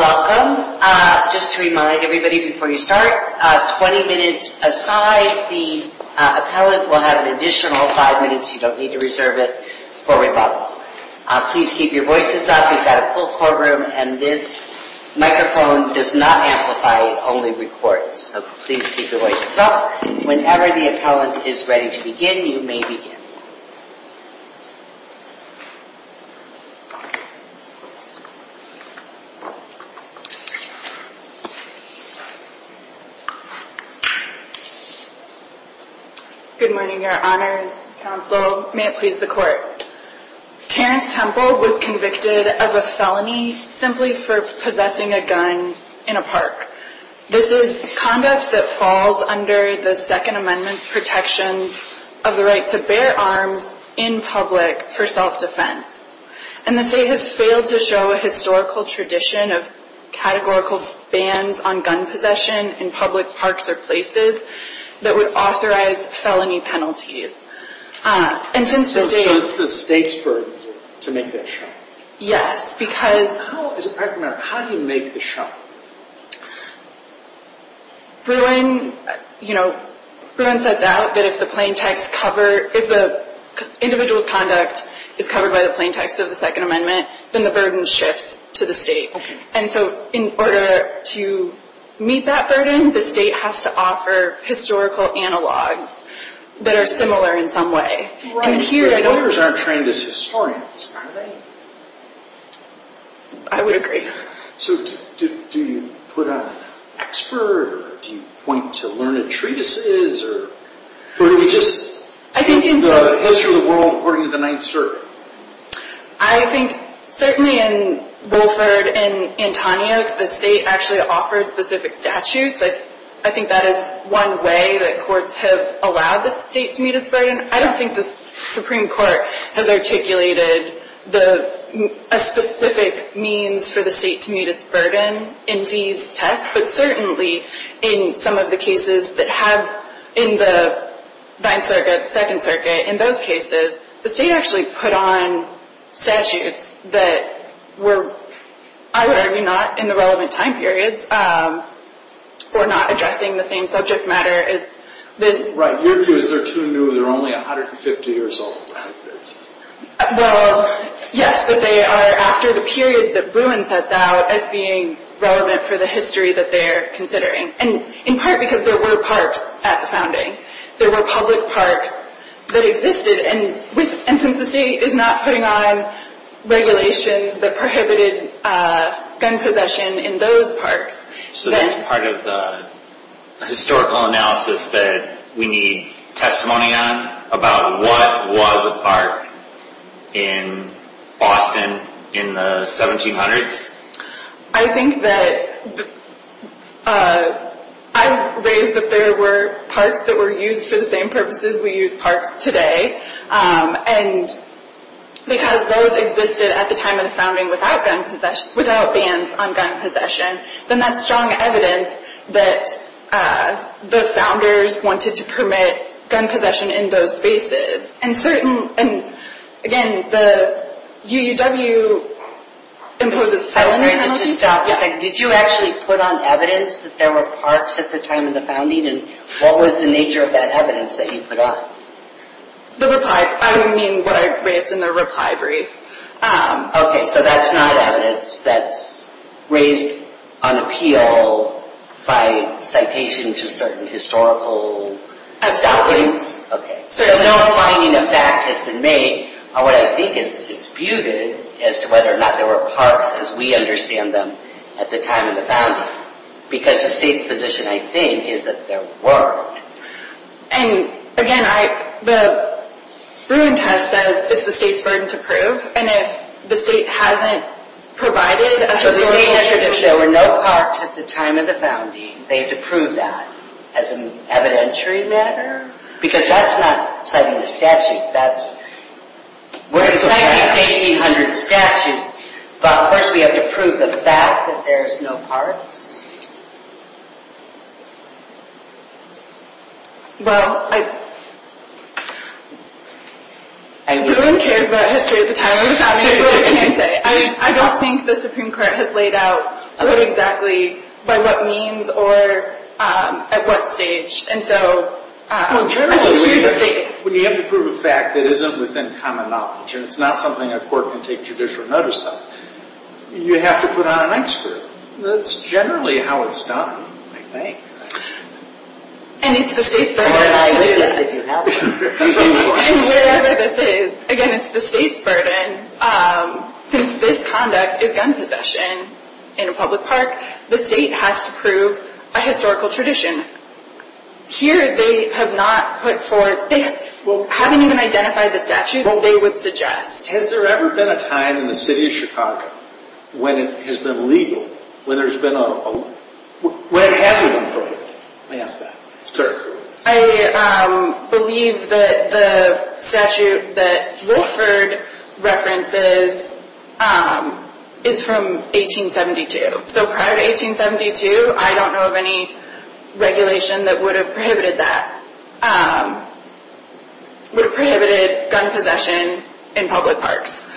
Welcome. Just to remind everybody before you start, 20 minutes aside, the appellant will have an additional 5 minutes. You don't need to reserve it for rebuttal. Please keep your voices up. We've got a full courtroom and this microphone does not amplify, it only records. So please keep your voices up. Whenever the appellant is ready to begin, you may begin. Good morning, your honors, counsel, may it please the court. Terrence Temple was convicted of a felony simply for possessing a gun in a park. This is conduct that falls under the 2nd Amendment's protections of the right to bear arms in public for self-defense. And the state has failed to show a historical tradition of categorical bans on gun possession in public parks or places that would authorize felony penalties. So it's the state's burden to make that show? Yes, because... How do you make the show? Bruin sets out that if the plaintext cover, if the individual's conduct is covered by the plaintext of the 2nd Amendment, then the burden shifts to the state. And so in order to meet that burden, the state has to offer historical analogs that are similar in some way. Your honors, the lawyers aren't trained as historians, are they? I would agree. So do you put on expert, or do you point to learned treatises, or do we just take the history of the world according to the 9th Circuit? I think certainly in Wolford and Antonio, the state actually offered specific statutes. I think that is one way that courts have allowed the state to meet its burden. I don't think the Supreme Court has articulated a specific means for the state to meet its burden in these tests, but certainly in some of the cases that have in the 9th Circuit, 2nd Circuit, in those cases, the state actually put on statutes that were, I would argue, not in the relevant time periods, or not addressing the same subject matter as this. Right. Your view is they're too new, they're only 150 years old. Well, yes, but they are after the periods that Bruin sets out as being relevant for the history that they're considering. And in part because there were parks at the founding. There were public parks that existed, and since the state is not putting on regulations that prohibited gun possession in those parks. So that's part of the historical analysis that we need testimony on, about what was a park in Boston in the 1700s? I think that I've raised that there were parks that were used for the same purposes we use parks today, and because those existed at the time of the founding without bans on gun possession, then that's strong evidence that the founders wanted to permit gun possession in those spaces. And again, the UUW imposes... Did you actually put on evidence that there were parks at the time of the founding, and what was the nature of that evidence that you put on? The reply, I mean what I raised in the reply brief. Okay, so that's not evidence that's raised on appeal by citation to certain historical documents? Okay, so no finding of fact has been made on what I think is disputed as to whether or not there were parks as we understand them at the time of the founding. Because the state's position, I think, is that there weren't. And again, the Bruin test says it's the state's burden to prove, and if the state hasn't provided a historical... If there were no parks at the time of the founding, they have to prove that as an evidentiary matter? Because that's not citing a statute. We're citing 1800 statutes, but of course we have to prove the fact that there's no parks? Well, I... No one cares about history at the time of the founding. I really can't say. I don't think the Supreme Court has laid out what exactly, by what means, or at what stage. And so... Well, generally speaking, when you have to prove a fact that isn't within common knowledge, and it's not something a court can take judicial notice of, you have to put on an X-score. That's generally how it's done, I think. And it's the state's burden to do that. And wherever this is, again, it's the state's burden. Since this conduct is gun possession in a public park, the state has to prove a historical tradition. Here, they have not put forth... They haven't even identified the statutes they would suggest. Has there ever been a time in the city of Chicago when it has been legal, when there's been a... When it hasn't been proven. May I ask that? Sir. I believe that the statute that Wilford references is from 1872. So prior to 1872, I don't know of any regulation that would have prohibited that. Would have prohibited gun possession in public parks.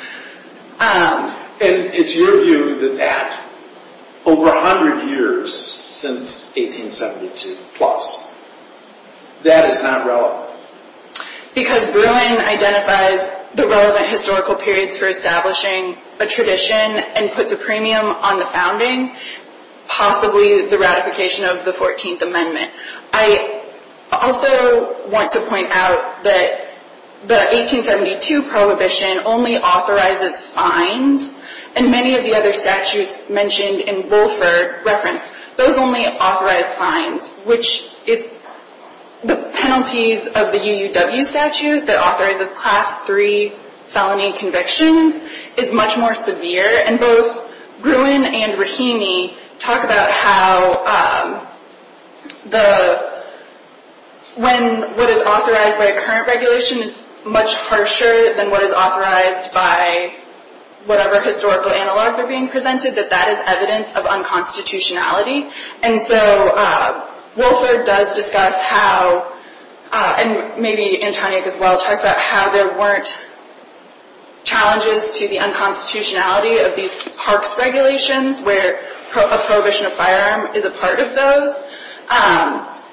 And it's your view that that, over 100 years since 1872 plus, that is not relevant. Because Bruin identifies the relevant historical periods for establishing a tradition and puts a premium on the founding, possibly the ratification of the 14th Amendment. I also want to point out that the 1872 prohibition only authorizes fines. And many of the other statutes mentioned in Wilford reference, those only authorize fines. Which is... The penalties of the UUW statute that authorizes Class III felony convictions is much more severe. And both Bruin and Rahimi talk about how... When what is authorized by a current regulation is much harsher than what is authorized by whatever historical analogs are being presented, that that is evidence of unconstitutionality. And so Wilford does discuss how, and maybe Antonia as well talks about how there weren't challenges to the unconstitutionality of these parks regulations where a prohibition of firearm is a part of those.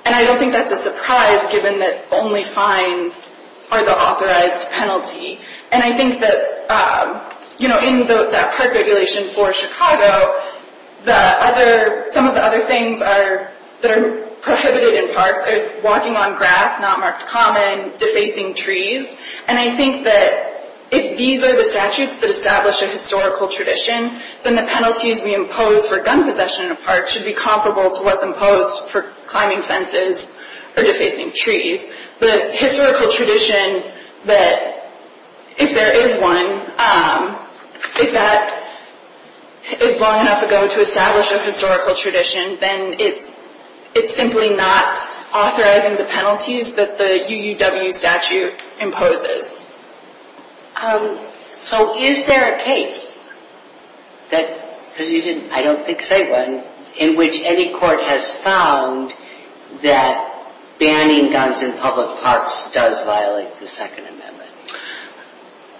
And I don't think that's a surprise given that only fines are the authorized penalty. And I think that in that park regulation for Chicago, some of the other things that are prohibited in parks are walking on grass, not marked common, defacing trees. And I think that if these are the statutes that establish a historical tradition, then the penalties we impose for gun possession in a park should be comparable to what's imposed for climbing fences or defacing trees. The historical tradition that, if there is one, if that is long enough ago to establish a historical tradition, then it's simply not authorizing the penalties that the UUW statute imposes. So is there a case that, because you didn't, I don't think say one, in which any court has found that banning guns in public parks does violate the Second Amendment?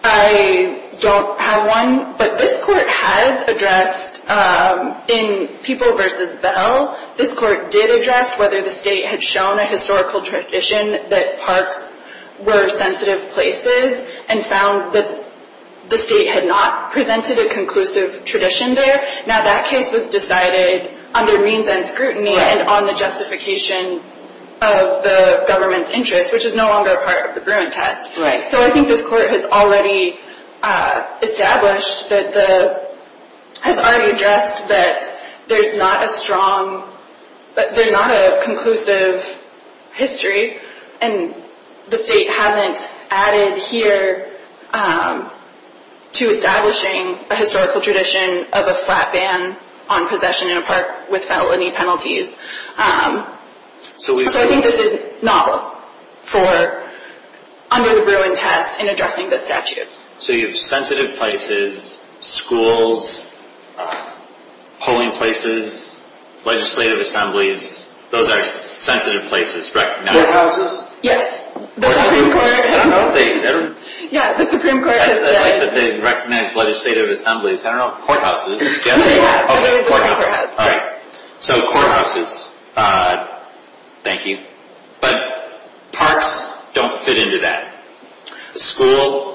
I don't have one, but this court has addressed in People vs. Bell, this court did address whether the state had shown a historical tradition that parks were sensitive places and found that the state had not presented a conclusive tradition there. Now that case was decided under means and scrutiny and on the justification of the government's interest, which is no longer a part of the Bruin test. So I think this court has already established that the, has already addressed that there's not a strong, there's not a conclusive history and the state hasn't added here to establishing a historical tradition of a flat ban on possession in a park with felony penalties. So I think this is novel for under the Bruin test in violating the statute. So you have sensitive places, schools, polling places, legislative assemblies, those are sensitive places, right? Yes, the Supreme Court. I don't know if they, I don't. Yeah, the Supreme Court has said. I'd like that they'd recognize legislative assemblies, I don't know, courthouses. Yeah, yeah. Okay, courthouses. Yes. Okay, so courthouses, thank you. But parks don't fit into that. School,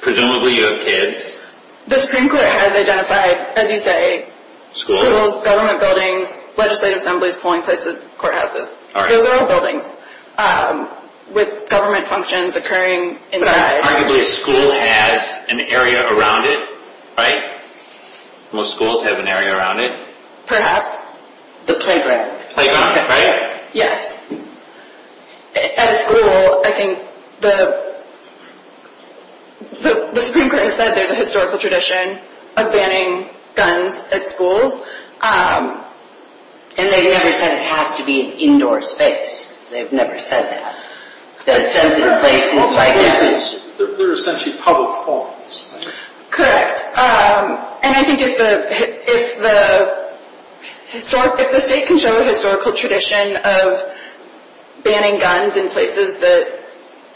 presumably you have kids. The Supreme Court has identified, as you say, schools, government buildings, legislative assemblies, polling places, courthouses. Those are all buildings with government functions occurring inside. Arguably a school has an area around it, right? Most schools have an area around it. Perhaps. The playground. Playground, right? Yes. At a school, I think the Supreme Court has said there's a historical tradition of banning guns at schools. And they've never said it has to be an indoor space. They've never said that. They're essentially public forms. Correct. And I think if the state can show a historical tradition of banning guns in places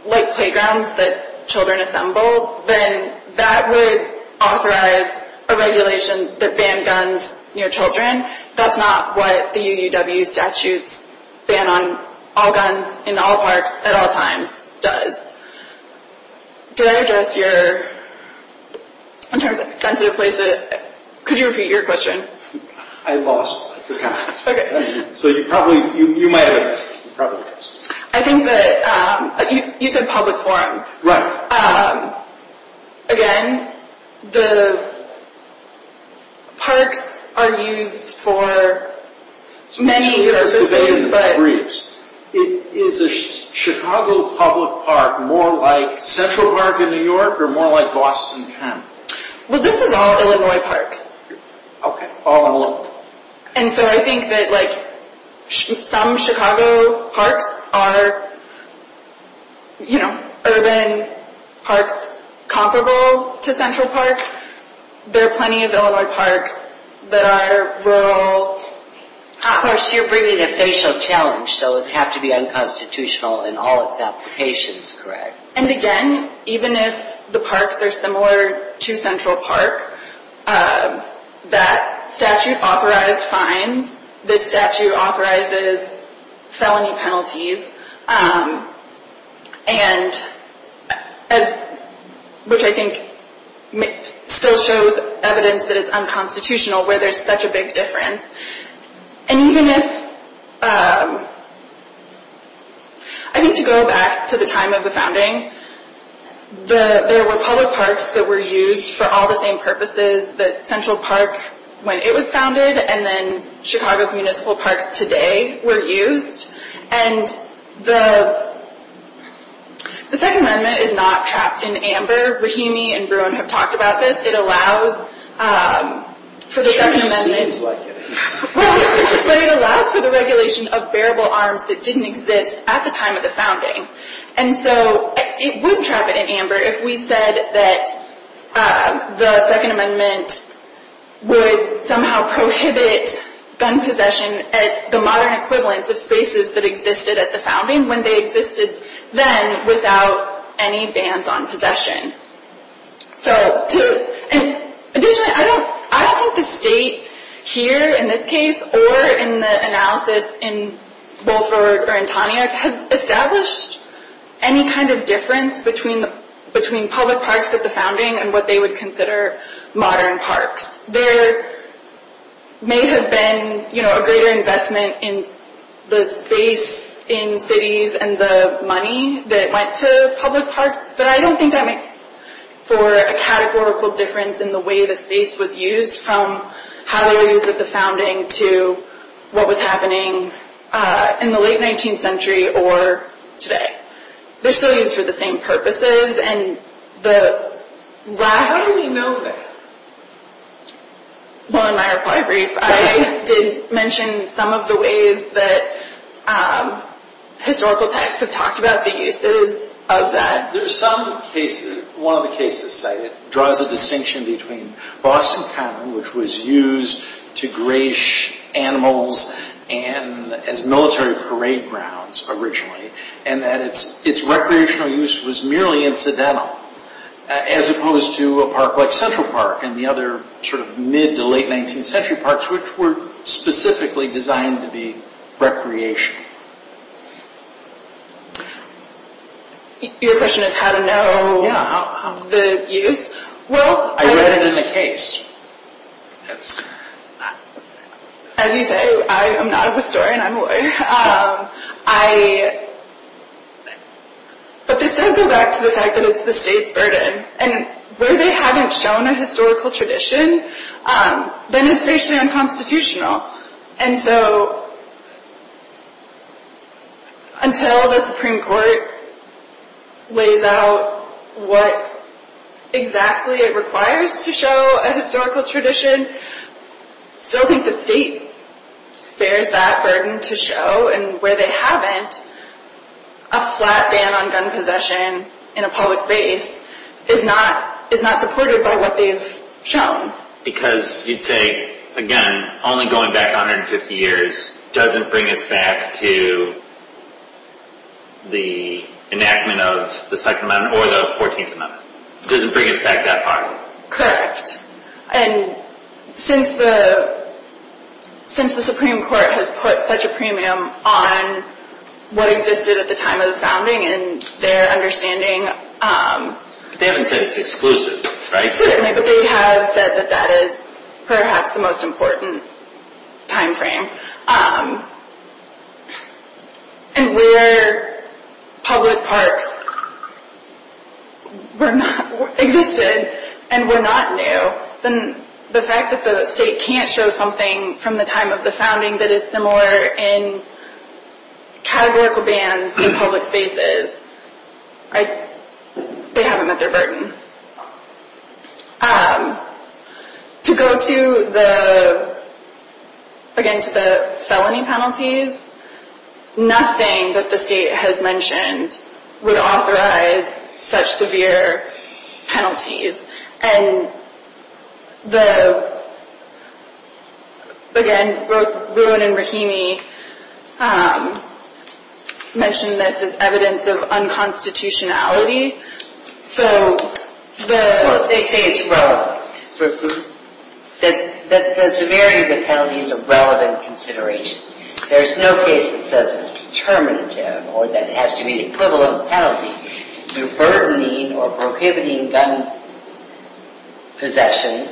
like playgrounds that children assemble, then that would authorize a regulation that ban guns near children. That's not what the UUW statutes ban on all guns in all parks at all times does. Did I address your, in terms of sensitive places, could you repeat your question? I lost. I forgot. Okay. So you probably, you might have addressed it. You probably addressed it. I think that, you said public forms. Right. Again, the parks are used for many purposes. It is a Chicago public park more like Central Park in New York or more like Boston County? Well, this is all Illinois parks. Okay. All Illinois. And so I think that like some Chicago parks are, you know, urban parks comparable to Central Park. There are plenty of Illinois parks that are rural. Of course, you're bringing the facial challenge, so it would have to be unconstitutional in all its applications, correct? And again, even if the parks are similar to Central Park, that statute authorizes fines. This statute authorizes felony penalties. And as, which I think still shows evidence that it's unconstitutional where there's such a big difference. And even if, I think to go back to the time of the founding, there were public parks that were used for all the same purposes that Central Park, when it was founded, and then Chicago's municipal parks today were used. And the Second Amendment is not trapped in amber. Rahimi and Bruen have talked about this. It allows for the Second Amendment. It sure seems like it. Well, but it allows for the regulation of bearable arms that didn't exist at the time of the founding. And so it wouldn't trap it in amber if we said that the Second Amendment would somehow prohibit gun possession at the modern equivalence of spaces that existed at the founding when they existed then without any bans on possession. So, to, and additionally, I don't think the state here, in this case, or in the analysis in Wolfer and Taniak, has established any kind of difference between public parks at the founding and what they would consider modern parks. There may have been, you know, a greater investment in the space in cities and the money that went to public parks, but I don't think that makes for a categorical difference in the way the space was used from how they used it at the founding to what was happening in the late 19th century or today. They're still used for the same purposes, and the How do we know that? Well, in my reply brief, I did mention some of the ways that historical texts have talked about the uses of that. There's some cases, one of the cases cited, draws a distinction between Boston Common, which was used to graze animals and as military parade grounds originally, and that its recreational use was merely incidental, as opposed to a park like Central Park and the other sort of mid to late 19th century parks, which were specifically designed to be recreational. Your question is how to know the use? Well, I read it in the case. As you say, I am not a historian, I'm a lawyer, but this does go back to the fact that it's the state's burden, and where they haven't shown a historical tradition, then it's racially unconstitutional, and so until the Supreme Court lays out what exactly it requires to show a historical tradition, I still think the state bears that burden to show, and where they haven't, a flat ban on gun possession in a public space is not supported by what they've shown. Because you'd say, again, only going back 150 years doesn't bring us back to the enactment of the Second Amendment or the Fourteenth Amendment. Doesn't bring us back that far. And since the Supreme Court has put such a premium on what existed at the time of the founding and their understanding... They haven't said it's exclusive, right? Certainly, but they have said that that is perhaps the most important time frame. And where public parks existed and were not new, then the fact that the state can't show something from the time of the founding that is similar in categorical bans in public spaces, they haven't met their burden. To go to the, again, to the felony penalties, nothing that the state has mentioned would authorize such severe penalties. And the, again, Rowan and Rahimi mentioned this as evidence of unconstitutionality. So, they say it's wrong. That the severity of the penalty is a relevant consideration. There's no case that says it's determinative or that it has to be the equivalent penalty. You're burdening or prohibiting gun possession.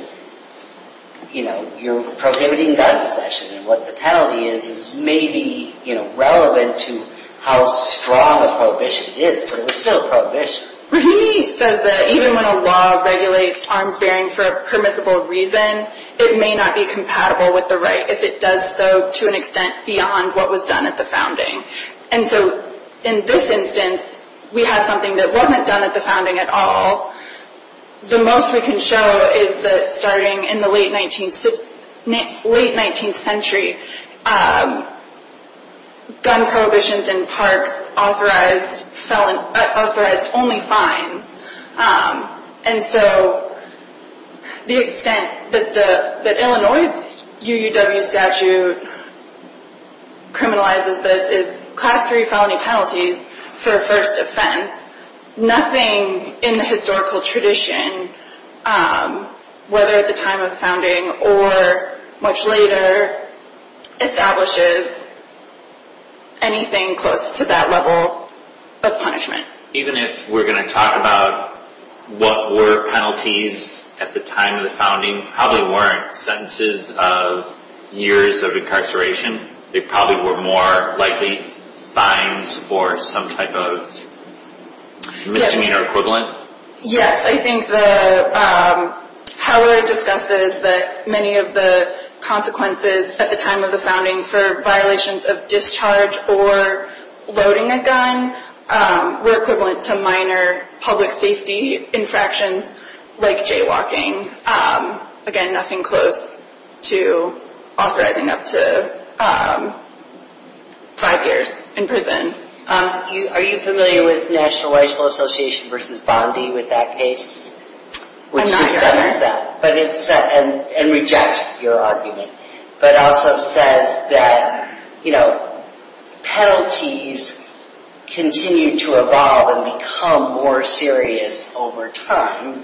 You know, you're prohibiting gun possession. And what the penalty is is maybe relevant to how strong a prohibition it is. So, it's still a prohibition. Rahimi says that even when a law regulates arms bearing for a permissible reason, it may not be compatible with the right if it does so to an extent beyond what was done at the founding. And so, in this instance, we have something that wasn't done at the founding at all. The most we can show is that starting in the late 19th century, gun prohibitions in parks authorized only fines. And so, the extent that Illinois' UUW statute criminalizes this is class 3 felony penalties for a first offense. Nothing in the historical tradition, whether at the time of the founding or much later, establishes anything close to that level of punishment. Even if we're going to talk about what were penalties at the time of the founding, probably weren't sentences of years of incarceration. They probably were more likely fines for some type of misdemeanor equivalent. Yes, I think the, however discussed is that many of the consequences at the time of the founding for violations of discharge or loading a gun were equivalent to minor public safety infractions like jaywalking. Again, nothing close to authorizing up to five years in prison. Are you familiar with National License Association versus Bondi with that case? Which discusses that and rejects your argument. But also says that, you know, penalties continue to evolve and become more serious over time.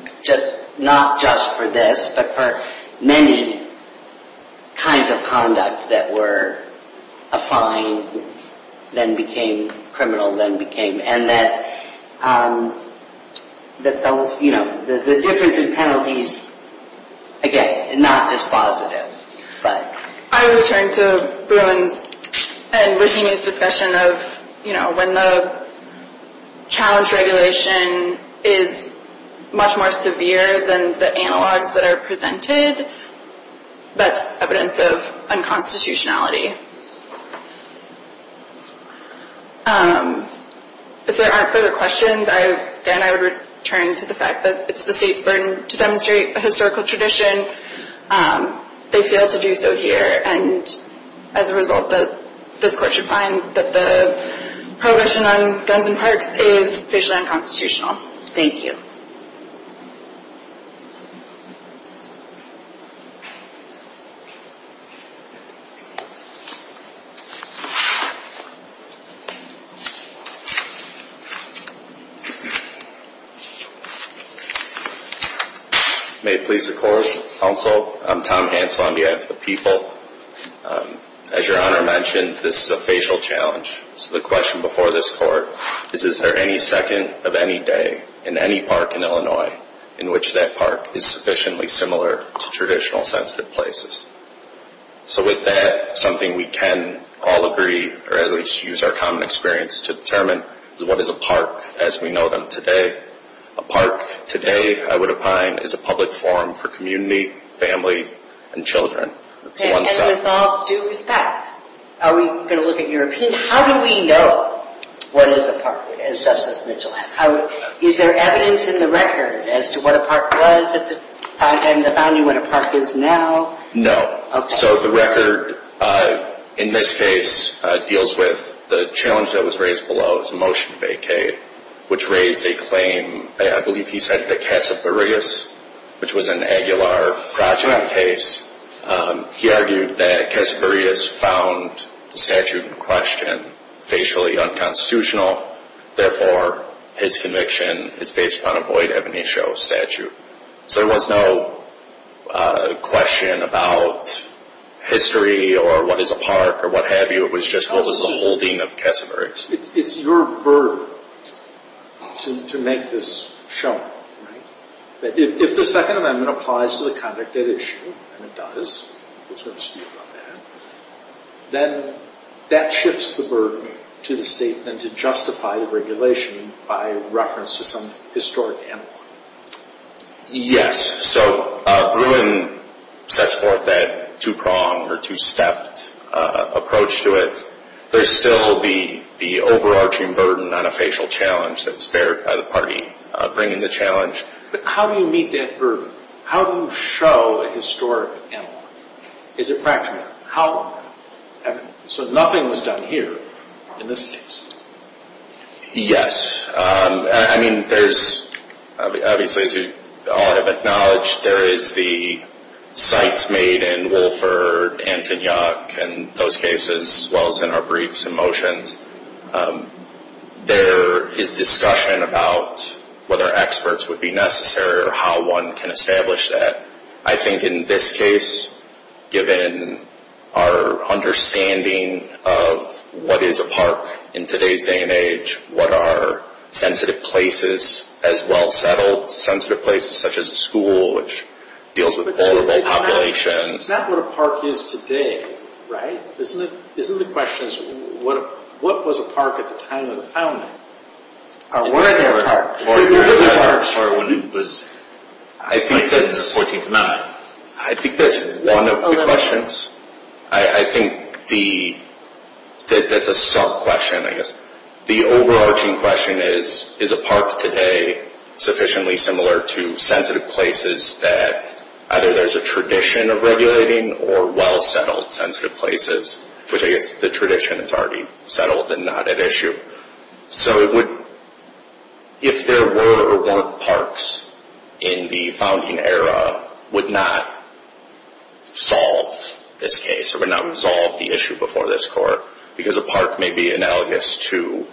Not just for this, but for many kinds of conduct that were a fine, then became criminal, then became. And that, you know, the difference in penalties, again, not just positive. I would return to Bruins and Virginia's discussion of, you know, when the challenge regulation is much more severe than the analogs that are presented, that's evidence of unconstitutionality. If there aren't further questions, then I would return to the fact that it's the state's burden to demonstrate a historical tradition. They fail to do so here. And as a result, this court should find that the prohibition on guns in parks is basically unconstitutional. Thank you. May it please the court, counsel, I'm Tom Hansel, I'm the head of the people. As your honor mentioned, this is a facial challenge. So the question before this court is, is there any second of any day in any park in Illinois in which that park is sufficiently similar to traditional sensitive places? So with that, something we can all agree, or at least use our common experience to determine, is what is a park as we know them today? A park today, I would opine, is a public forum for community, family, and children. And with all due respect, are we going to look at European? How do we know what is a park, as Justice Mitchell asked? Is there evidence in the record as to what a park was at the time of the founding, what a park is now? No. So the record in this case deals with the challenge that was raised below, it was a motion vacated, which raised a claim, I believe he said, to Casaburias, which was an Aguilar project case. He argued that Casaburias found the statute in question facially unconstitutional, therefore his conviction is based upon a void ebony show statute. So there was no question about history or what is a park or what have you, it was just what was the holding of Casaburias. It's your burden to make this show. If the Second Amendment applies to the conduct that it should, and it does, then that shifts the burden to the state then to justify the regulation by reference to some historic analog. Yes. So Gruen sets forth that two-pronged or two-stepped approach to it. There's still the overarching burden on a facial challenge that's bared by the party bringing the challenge. But how do you meet that burden? How do you show a historic analog? Is it practical? So nothing was done here in this case. I mean, there's obviously, as you all have acknowledged, there is the cites made in Wolford, Antonyuk, and those cases, as well as in our briefs and motions. There is discussion about whether experts would be necessary or how one can establish that. I think in this case, given our understanding of what is a park in today's day and age, what are sensitive places as well settled, sensitive places such as a school, which deals with a vulnerable population. It's not what a park is today, right? Isn't the question, what was a park at the time of the founding? I think that's one of the questions. I think that's a sub-question, I guess. The overarching question is, is a park today sufficiently similar to sensitive places that either there's a tradition of regulating or well settled sensitive places, which I guess the tradition is already settled and not at issue. So if there were or weren't parks in the founding era, would not solve this case, or would not resolve the issue before this court, because a park may be analogous to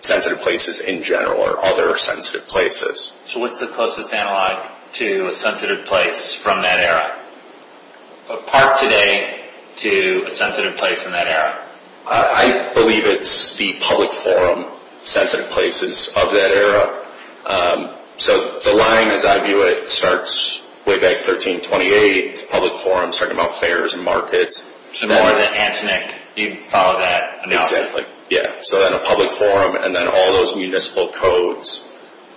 sensitive places in general, or other sensitive places. So what's the closest analog to a sensitive place from that era? A park today to a sensitive place from that era? I believe it's the public forum sensitive places of that era. So the line, as I view it, starts way back 1328, public forums talking about fairs and markets. So more than Antoinette, you'd follow that analysis. Yeah, so then a public forum, and then all those municipal codes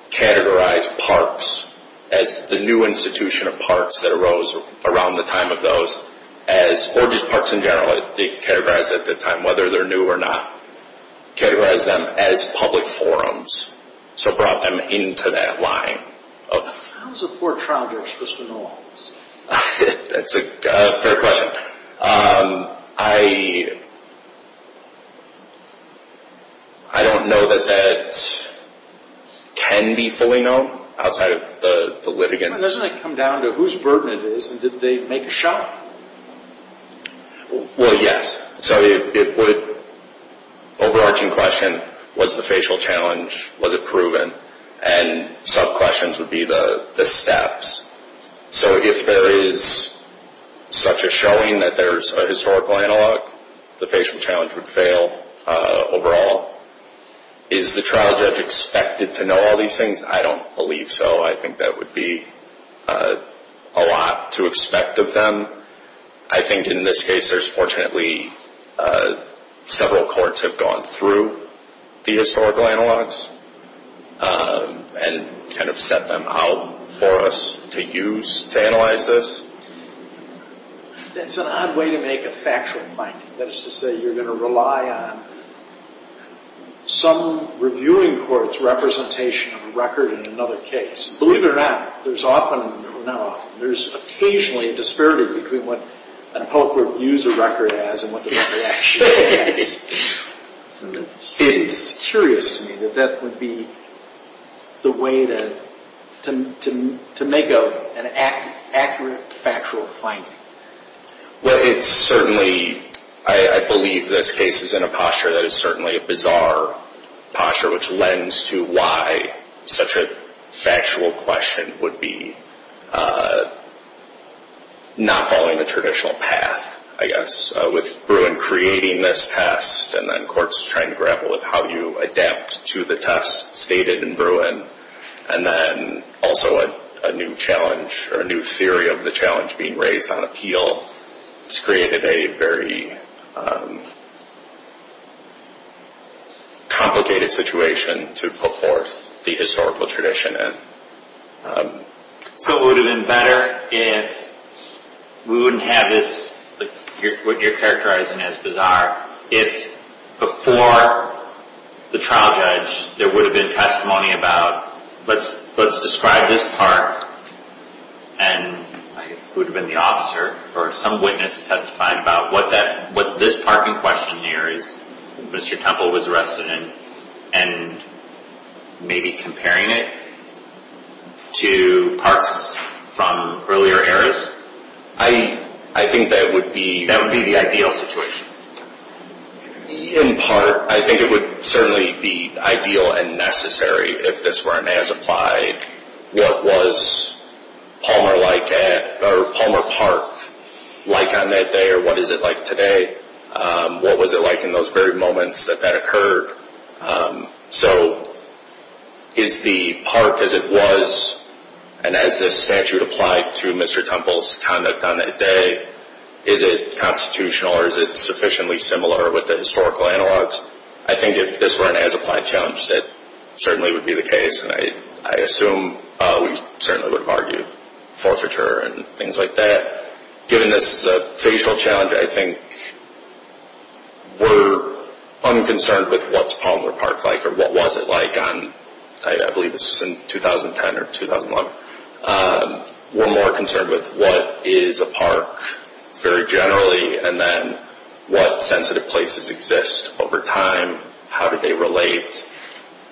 categorized parks as the new institution of parks that arose around the time of those. Or just parks in general, they categorized at the time, whether they're new or not. Categorized them as public forums. So brought them into that line. How does a court trial do justice to analogs? That's a fair question. I don't know that that can be fully known outside of the litigants. Doesn't it come down to whose burden it is, and did they make a shot? Well, yes. So it would, overarching question, was the facial challenge, was it proven? And sub-questions would be the steps. So if there is such a showing that there's a historical analog, the facial challenge would fail overall. Is the trial judge expected to know all these things? I don't believe so. I think that would be a lot to expect of them. I think in this case, there's fortunately several courts have gone through the historical analogs, and kind of set them out for us to use to analyze this. It's an odd way to make a factual finding. That is to say, you're going to rely on some reviewing court's representation of a record in another case. Believe it or not, there's often, or not often, there's occasionally a disparity between what a public court views a record as and what the record actually says. It's curious to me that that would be the way to make an accurate factual finding. Well, it's certainly, I believe this case is in a posture that is certainly a bizarre posture, which lends to why such a factual question would be not following the traditional path, I guess. With Bruin creating this test, and then courts trying to grapple with how you adapt to the test stated in Bruin, and then also a new challenge, or a new theory of the challenge being raised on appeal, it's created a very complicated situation to put forth the historical tradition. So it would have been better if we wouldn't have this, what you're characterizing as bizarre, if before the trial judge there would have been testimony about, let's describe this part, and it would have been the officer, or some witness testifying about what this part in question here is, Mr. Temple was arrested in, and maybe comparing it to parts from earlier eras. I think that would be the ideal situation. In part, I think it would certainly be ideal and necessary, if this were as applied, what was Palmer Park like on that day, or what is it like today? What was it like in those very moments that that occurred? So is the park as it was, and as this statute applied to Mr. Temple's conduct on that day, is it constitutional, or is it sufficiently similar with the historical analogs? I think if this were an as-applied challenge, that certainly would be the case, and I assume we certainly would have argued forfeiture and things like that. Given this is a facial challenge, I think we're unconcerned with what's Palmer Park like, or what was it like on, I believe this was in 2010 or 2001. We're more concerned with what is a park very generally, and then what sensitive places exist over time, how do they relate?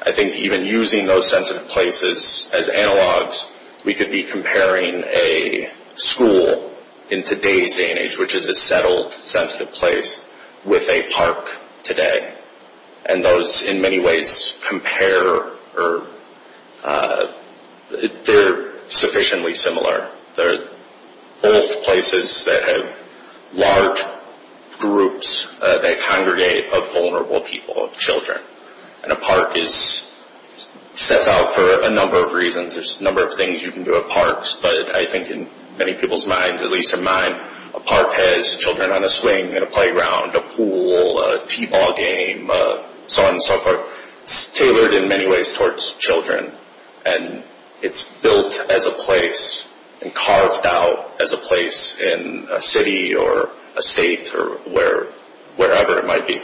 I think even using those sensitive places as analogs, we could be comparing a school in today's day and age, which is a settled sensitive place, with a park today, and those in many ways compare, or they're sufficiently similar. They're both places that have large groups that congregate of vulnerable people, of children, and a park sets out for a number of reasons. There's a number of things you can do at parks, but I think in many people's minds, at least in mine, a park has children on a swing, a playground, a pool, a t-ball game, so on and so forth. It's tailored in many ways towards children, and it's built as a place, and carved out as a place in a city or a state or wherever it might be,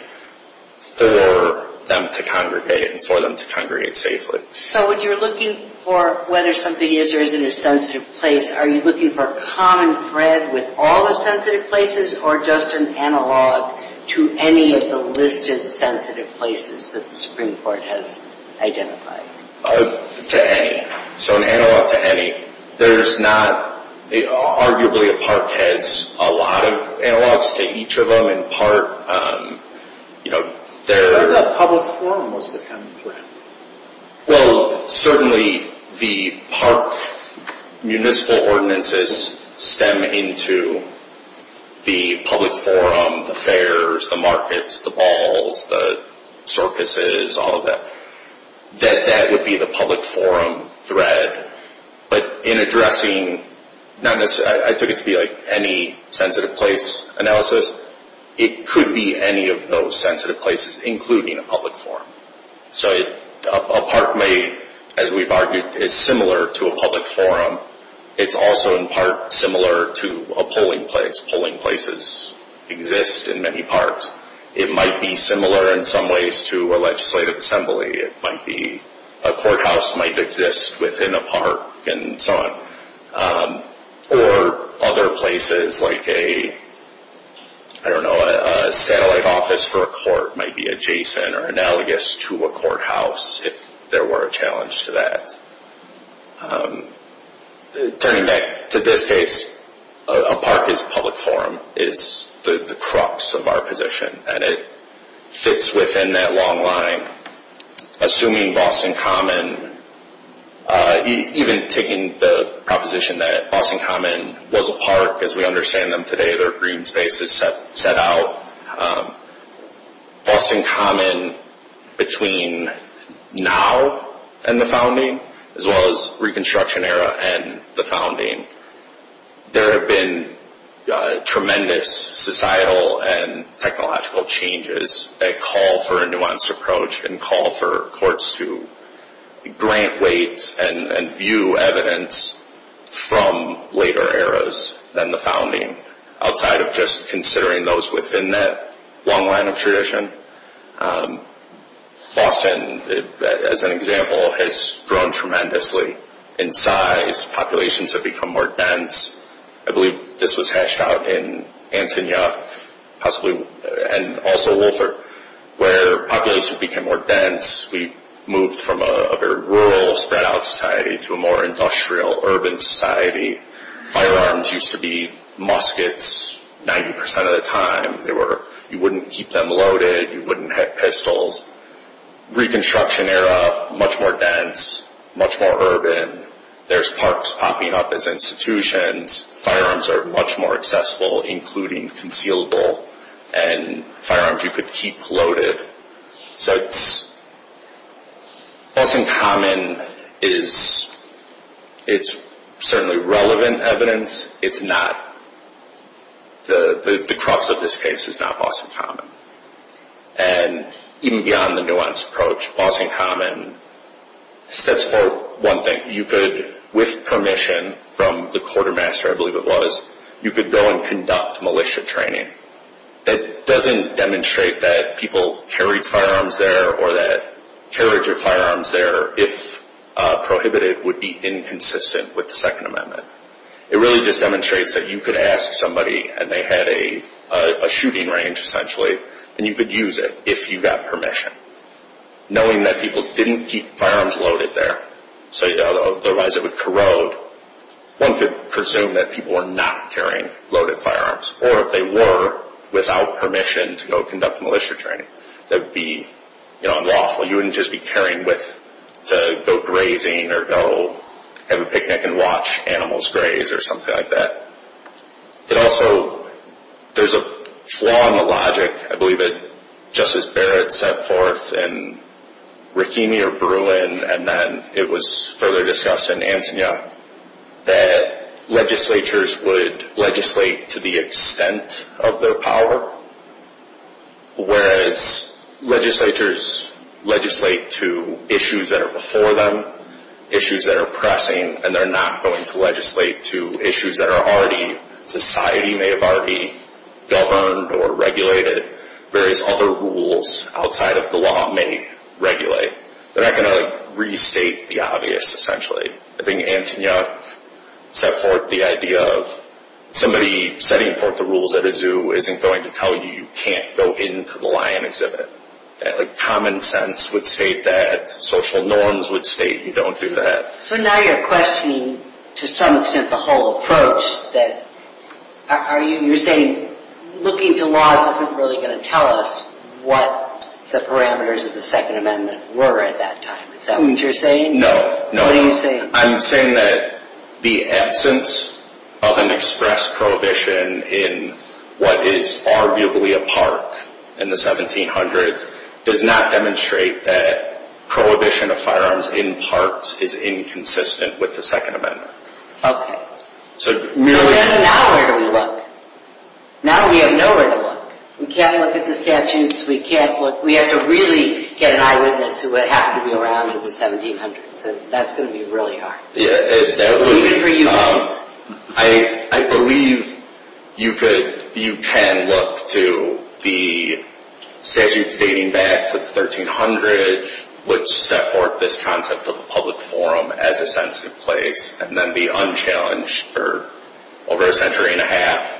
for them to congregate, and for them to congregate safely. So when you're looking for whether something is or isn't a sensitive place, are you looking for a common thread with all the sensitive places, or just an analog to any of the listed sensitive places that the Supreme Court has identified? To any. So an analog to any. There's not, arguably a park has a lot of analogs to each of them, in part. But the public forum was the common thread. Well, certainly the park municipal ordinances stem into the public forum, the fairs, the markets, the balls, the circuses, all of that. That would be the public forum thread. But in addressing, I took it to be any sensitive place analysis, it could be any of those sensitive places, including a public forum. So a park may, as we've argued, is similar to a public forum. It's also in part similar to a polling place. Polling places exist in many parks. It might be similar in some ways to a legislative assembly. It might be, a courthouse might exist within a park and so on. Or other places like a, I don't know, a satellite office for a court might be adjacent or analogous to a courthouse if there were a challenge to that. Turning back to this case, a park is public forum, is the crux of our position. And it fits within that long line. Assuming Boston Common, even taking the proposition that Boston Common was a park, as we understand them today, their green space is set out. Boston Common, between now and the founding, as well as Reconstruction Era and the founding, there have been tremendous societal and technological changes that call for a nuanced approach and call for courts to grant weight and view evidence from later eras than the founding. Outside of just considering those within that long line of tradition, Boston, as an example, has grown tremendously in size. Populations have become more dense. I believe this was hashed out in Antonia, possibly, and also Wolfer, where populations became more dense. We moved from a very rural, spread out society to a more industrial, urban society. Firearms used to be muskets 90% of the time. You wouldn't keep them loaded. You wouldn't have pistols. Reconstruction Era, much more dense, much more urban. There's parks popping up as institutions. Firearms are much more accessible, including concealable, and firearms you could keep loaded. Boston Common is certainly relevant evidence. The crux of this case is not Boston Common. Even beyond the nuanced approach, Boston Common sets forth one thing. You could, with permission from the quartermaster, I believe it was, you could go and conduct militia training. That doesn't demonstrate that people carried firearms there, or that carriage of firearms there, if prohibited, would be inconsistent with the Second Amendment. It really just demonstrates that you could ask somebody, and they had a shooting range, essentially, and you could use it if you got permission. Knowing that people didn't keep firearms loaded there, so otherwise it would corrode, one could presume that people were not carrying loaded firearms, or if they were, without permission, to go conduct militia training. That would be unlawful. You wouldn't just be carrying with to go grazing, or go have a picnic and watch animals graze, or something like that. But also, there's a flaw in the logic, I believe, that Justice Barrett set forth in Rahimi or Bruin, and then it was further discussed in Antonia, that legislatures would legislate to the extent of their power, whereas legislatures legislate to issues that are before them, issues that are pressing, and they're not going to legislate to issues that are already, society may have already governed or regulated, various other rules outside of the law may regulate. They're not going to restate the obvious, essentially. I think Antonia set forth the idea of somebody setting forth the rules at a zoo isn't going to tell you you can't go into the lion exhibit. Common sense would state that. Social norms would state you don't do that. So now you're questioning, to some extent, the whole approach. You're saying looking to laws isn't really going to tell us what the parameters of the Second Amendment were at that time. Is that what you're saying? No. What are you saying? I'm saying that the absence of an express prohibition in what is arguably a park in the 1700s does not demonstrate that prohibition of firearms in parks is inconsistent with the Second Amendment. Okay. So now where do we look? Now we have nowhere to look. We can't look at the statutes. We have to really get an eyewitness who would happen to be around in the 1700s. That's going to be really hard. Even for you folks. I believe you can look to the statutes dating back to the 1300s which set forth this concept of a public forum as a sensitive place and then the unchallenged for over a century and a half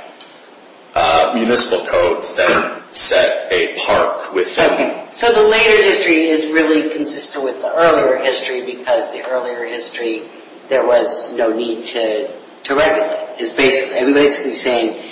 municipal codes that set a park within. So the later history is really consistent with the earlier history because the earlier history there was no need to regulate. It's basically saying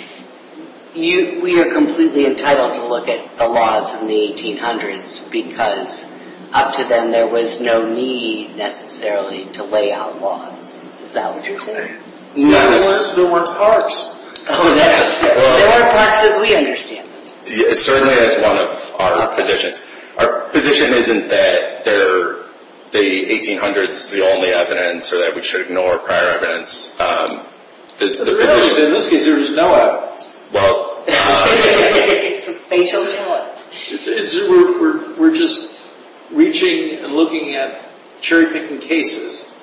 we are completely entitled to look at the laws in the 1800s because up to then there was no need necessarily to lay out laws. Is that what you're saying? Not unless there weren't parks. There weren't parks as we understand them. Certainly that's one of our positions. Our position isn't that the 1800s is the only evidence or that we should ignore prior evidence. The reality is in this case there is no evidence. It's a facials court. We're just reaching and looking at cherry picking cases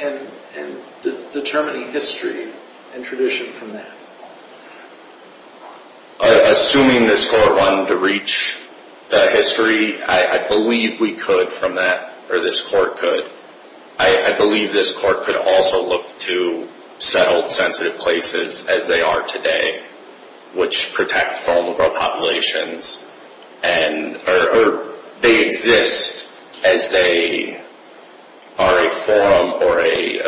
and determining history and tradition from that. Assuming this court wanted to reach the history, I believe we could from that or this court could. I believe this court could also look to settled sensitive places as they are today which protect vulnerable populations or they exist as they are a forum or a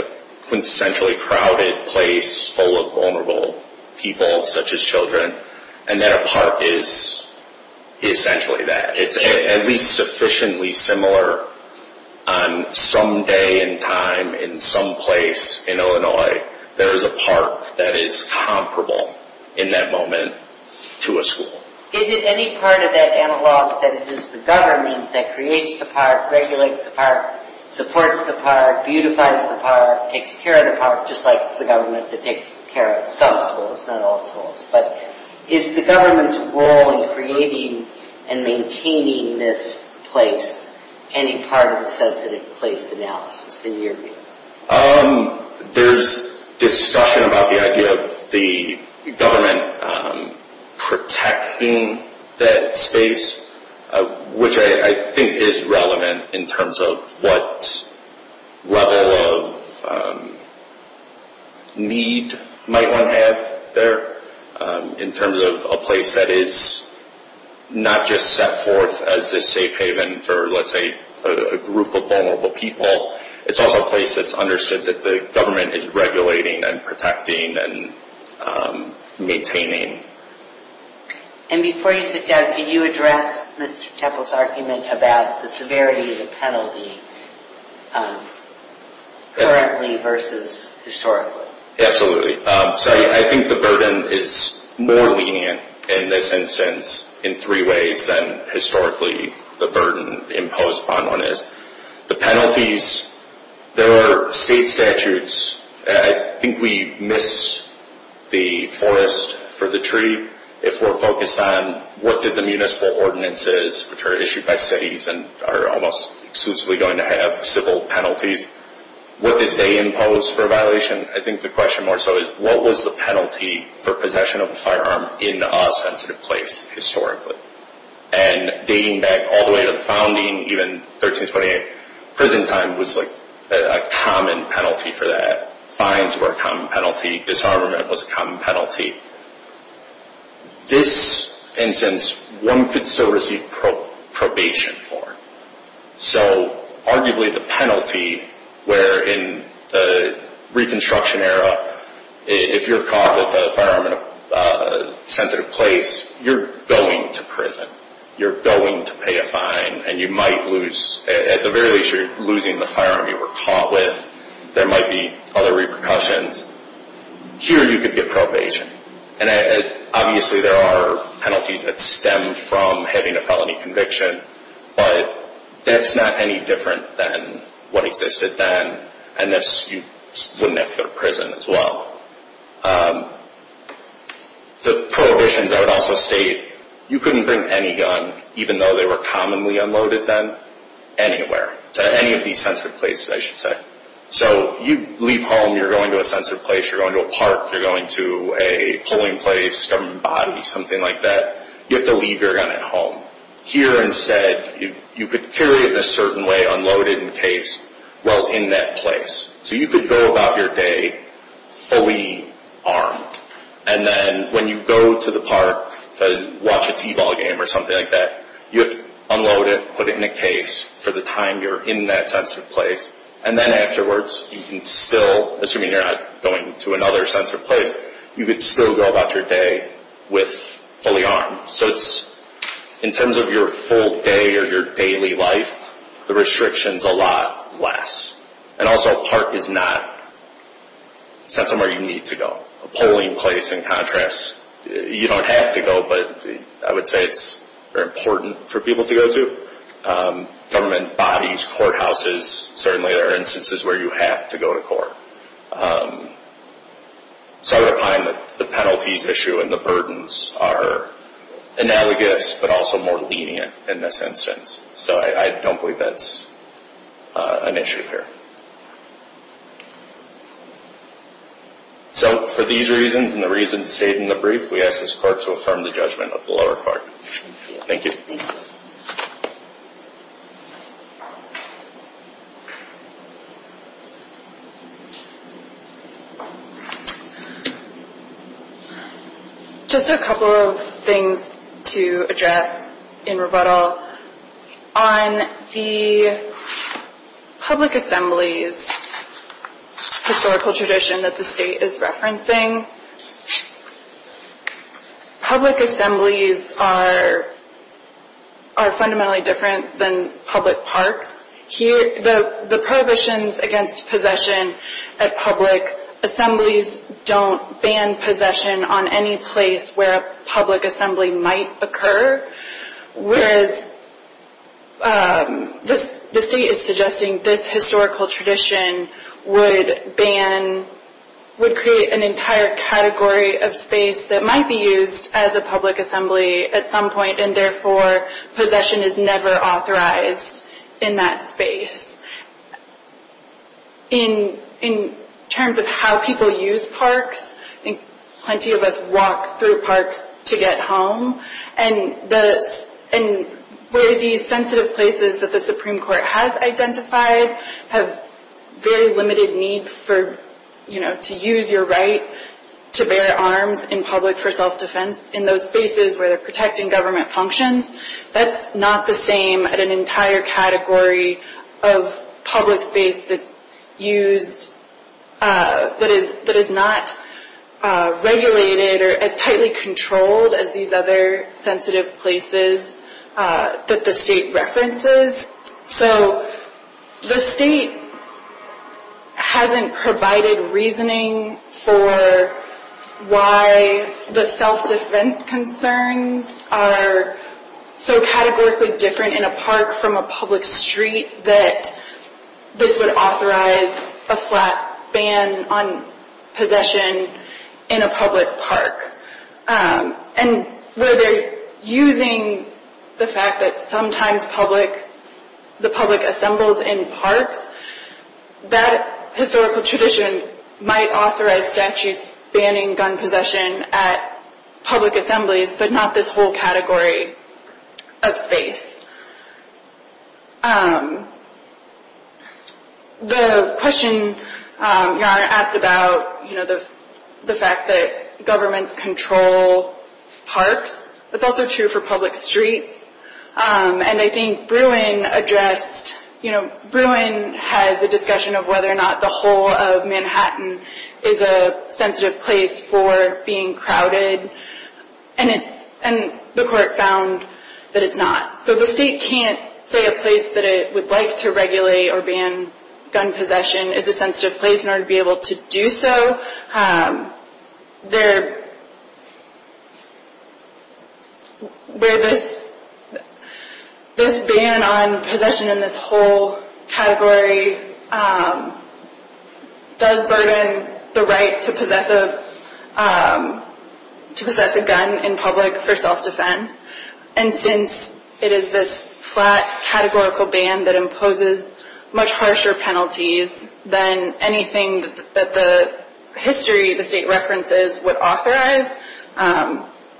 quintessentially crowded place full of vulnerable people such as children and that a park is essentially that. It's at least sufficiently similar on some day and time in some place in Illinois there is a park that is comparable in that moment to a school. Is it any part of that analog that it is the government that creates the park, regulates the park, supports the park, beautifies the park, takes care of the park just like it's the government that takes care of some schools, not all schools. Is the government's role in creating and maintaining this place any part of the sensitive place analysis in your view? There's discussion about the idea of the government protecting that space which I think is relevant in terms of what level of need might one have there in terms of a place that is not just set forth as a safe haven for let's say a group of vulnerable people. It's also a place that's understood that the government is regulating and protecting and maintaining. And before you sit down, can you address Mr. Temple's argument about the severity of the penalty currently versus historically? Absolutely. So I think the burden is more lenient in this instance in three ways than historically the burden imposed upon one is. The penalties, there are state statutes. I think we miss the forest for the tree if we're focused on what did the municipal ordinances which are issued by cities and are almost exclusively going to have civil penalties, what did they impose for a violation? I think the question more so is what was the penalty for possession of a firearm in a sensitive place historically? And dating back all the way to the founding, even 1328, prison time was a common penalty for that. Fines were a common penalty. Disarmament was a common penalty. This instance, one could still receive probation for it. So arguably the penalty where in the reconstruction era, if you're caught with a firearm in a sensitive place, you're going to prison. You're going to pay a fine and you might lose, at the very least you're losing the firearm you were caught with. There might be other repercussions. Here you could get probation. And obviously there are penalties that stem from having a felony conviction, but that's not any different than what existed then and thus you wouldn't have to go to prison as well. The prohibitions I would also state, you couldn't bring any gun, even though they were commonly unloaded then, anywhere, to any of these sensitive places I should say. So you leave home, you're going to a sensitive place, you're going to a park, you're going to a polling place, a government body, something like that. You have to leave your gun at home. Here instead, you could carry it in a certain way, unload it in case. Well, in that place. So you could go about your day fully armed. And then when you go to the park to watch a t-ball game or something like that, you have to unload it, put it in a case for the time you're in that sensitive place. And then afterwards, you can still, assuming you're not going to another sensitive place, you could still go about your day fully armed. So in terms of your full day or your daily life, the restrictions a lot less. And also a park is not somewhere you need to go. A polling place, in contrast, you don't have to go, but I would say it's very important for people to go to. Government bodies, courthouses, certainly there are instances where you have to go to court. So I would find that the penalties issue and the burdens are analogous, but also more lenient in this instance. So I don't believe that's an issue here. So for these reasons and the reasons stated in the brief, we ask this court to affirm the judgment of the lower court. Thank you. Just a couple of things to address in rebuttal. On the public assemblies historical tradition that the state is referencing, public assemblies are fundamentally different than public parks. The prohibitions against possession at public assemblies don't ban possession on any place where a public assembly might occur, whereas the state is suggesting this historical tradition would ban, would create an entire category of space that might be used as a public assembly at some point, and therefore possession is never authorized in that space. In terms of how people use parks, I think plenty of us walk through parks to get home, and where these sensitive places that the Supreme Court has identified have very limited need for, you know, to use your right to bear arms in public for self-defense, in those spaces where they're protecting government functions. That's not the same at an entire category of public space that's used, that is not regulated or as tightly controlled as these other sensitive places that the state references. So the state hasn't provided reasoning for why the self-defense concerns are so categorically different in a park from a public street that this would authorize a flat ban on possession in a public park. And where they're using the fact that sometimes the public assembles in parks, that historical tradition might authorize statutes banning gun possession at public assemblies, but not this whole category of space. The question Your Honor asked about, you know, the fact that governments control parks, that's also true for public streets. And I think Bruin addressed, you know, Bruin has a discussion of whether or not the whole of Manhattan is a sensitive place for being crowded, and the court found that it's not. So the state can't say a place that it would like to regulate or ban gun possession is a sensitive place in order to be able to do so. Where this ban on possession in this whole category does burden the right to possess a gun in public for self-defense. And since it is this flat categorical ban that imposes much harsher penalties than anything that the history the state references would authorize,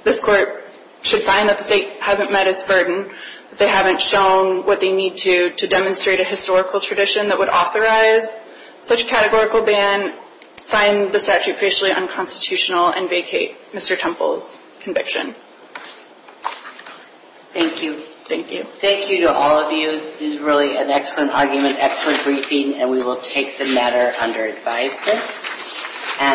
this court should find that the state hasn't met its burden, that they haven't shown what they need to to demonstrate a historical tradition that would authorize such a categorical ban, and find the statute partially unconstitutional and vacate Mr. Temple's conviction. Thank you. Thank you. Thank you to all of you. This is really an excellent argument, excellent briefing, and we will take the matter under advisement.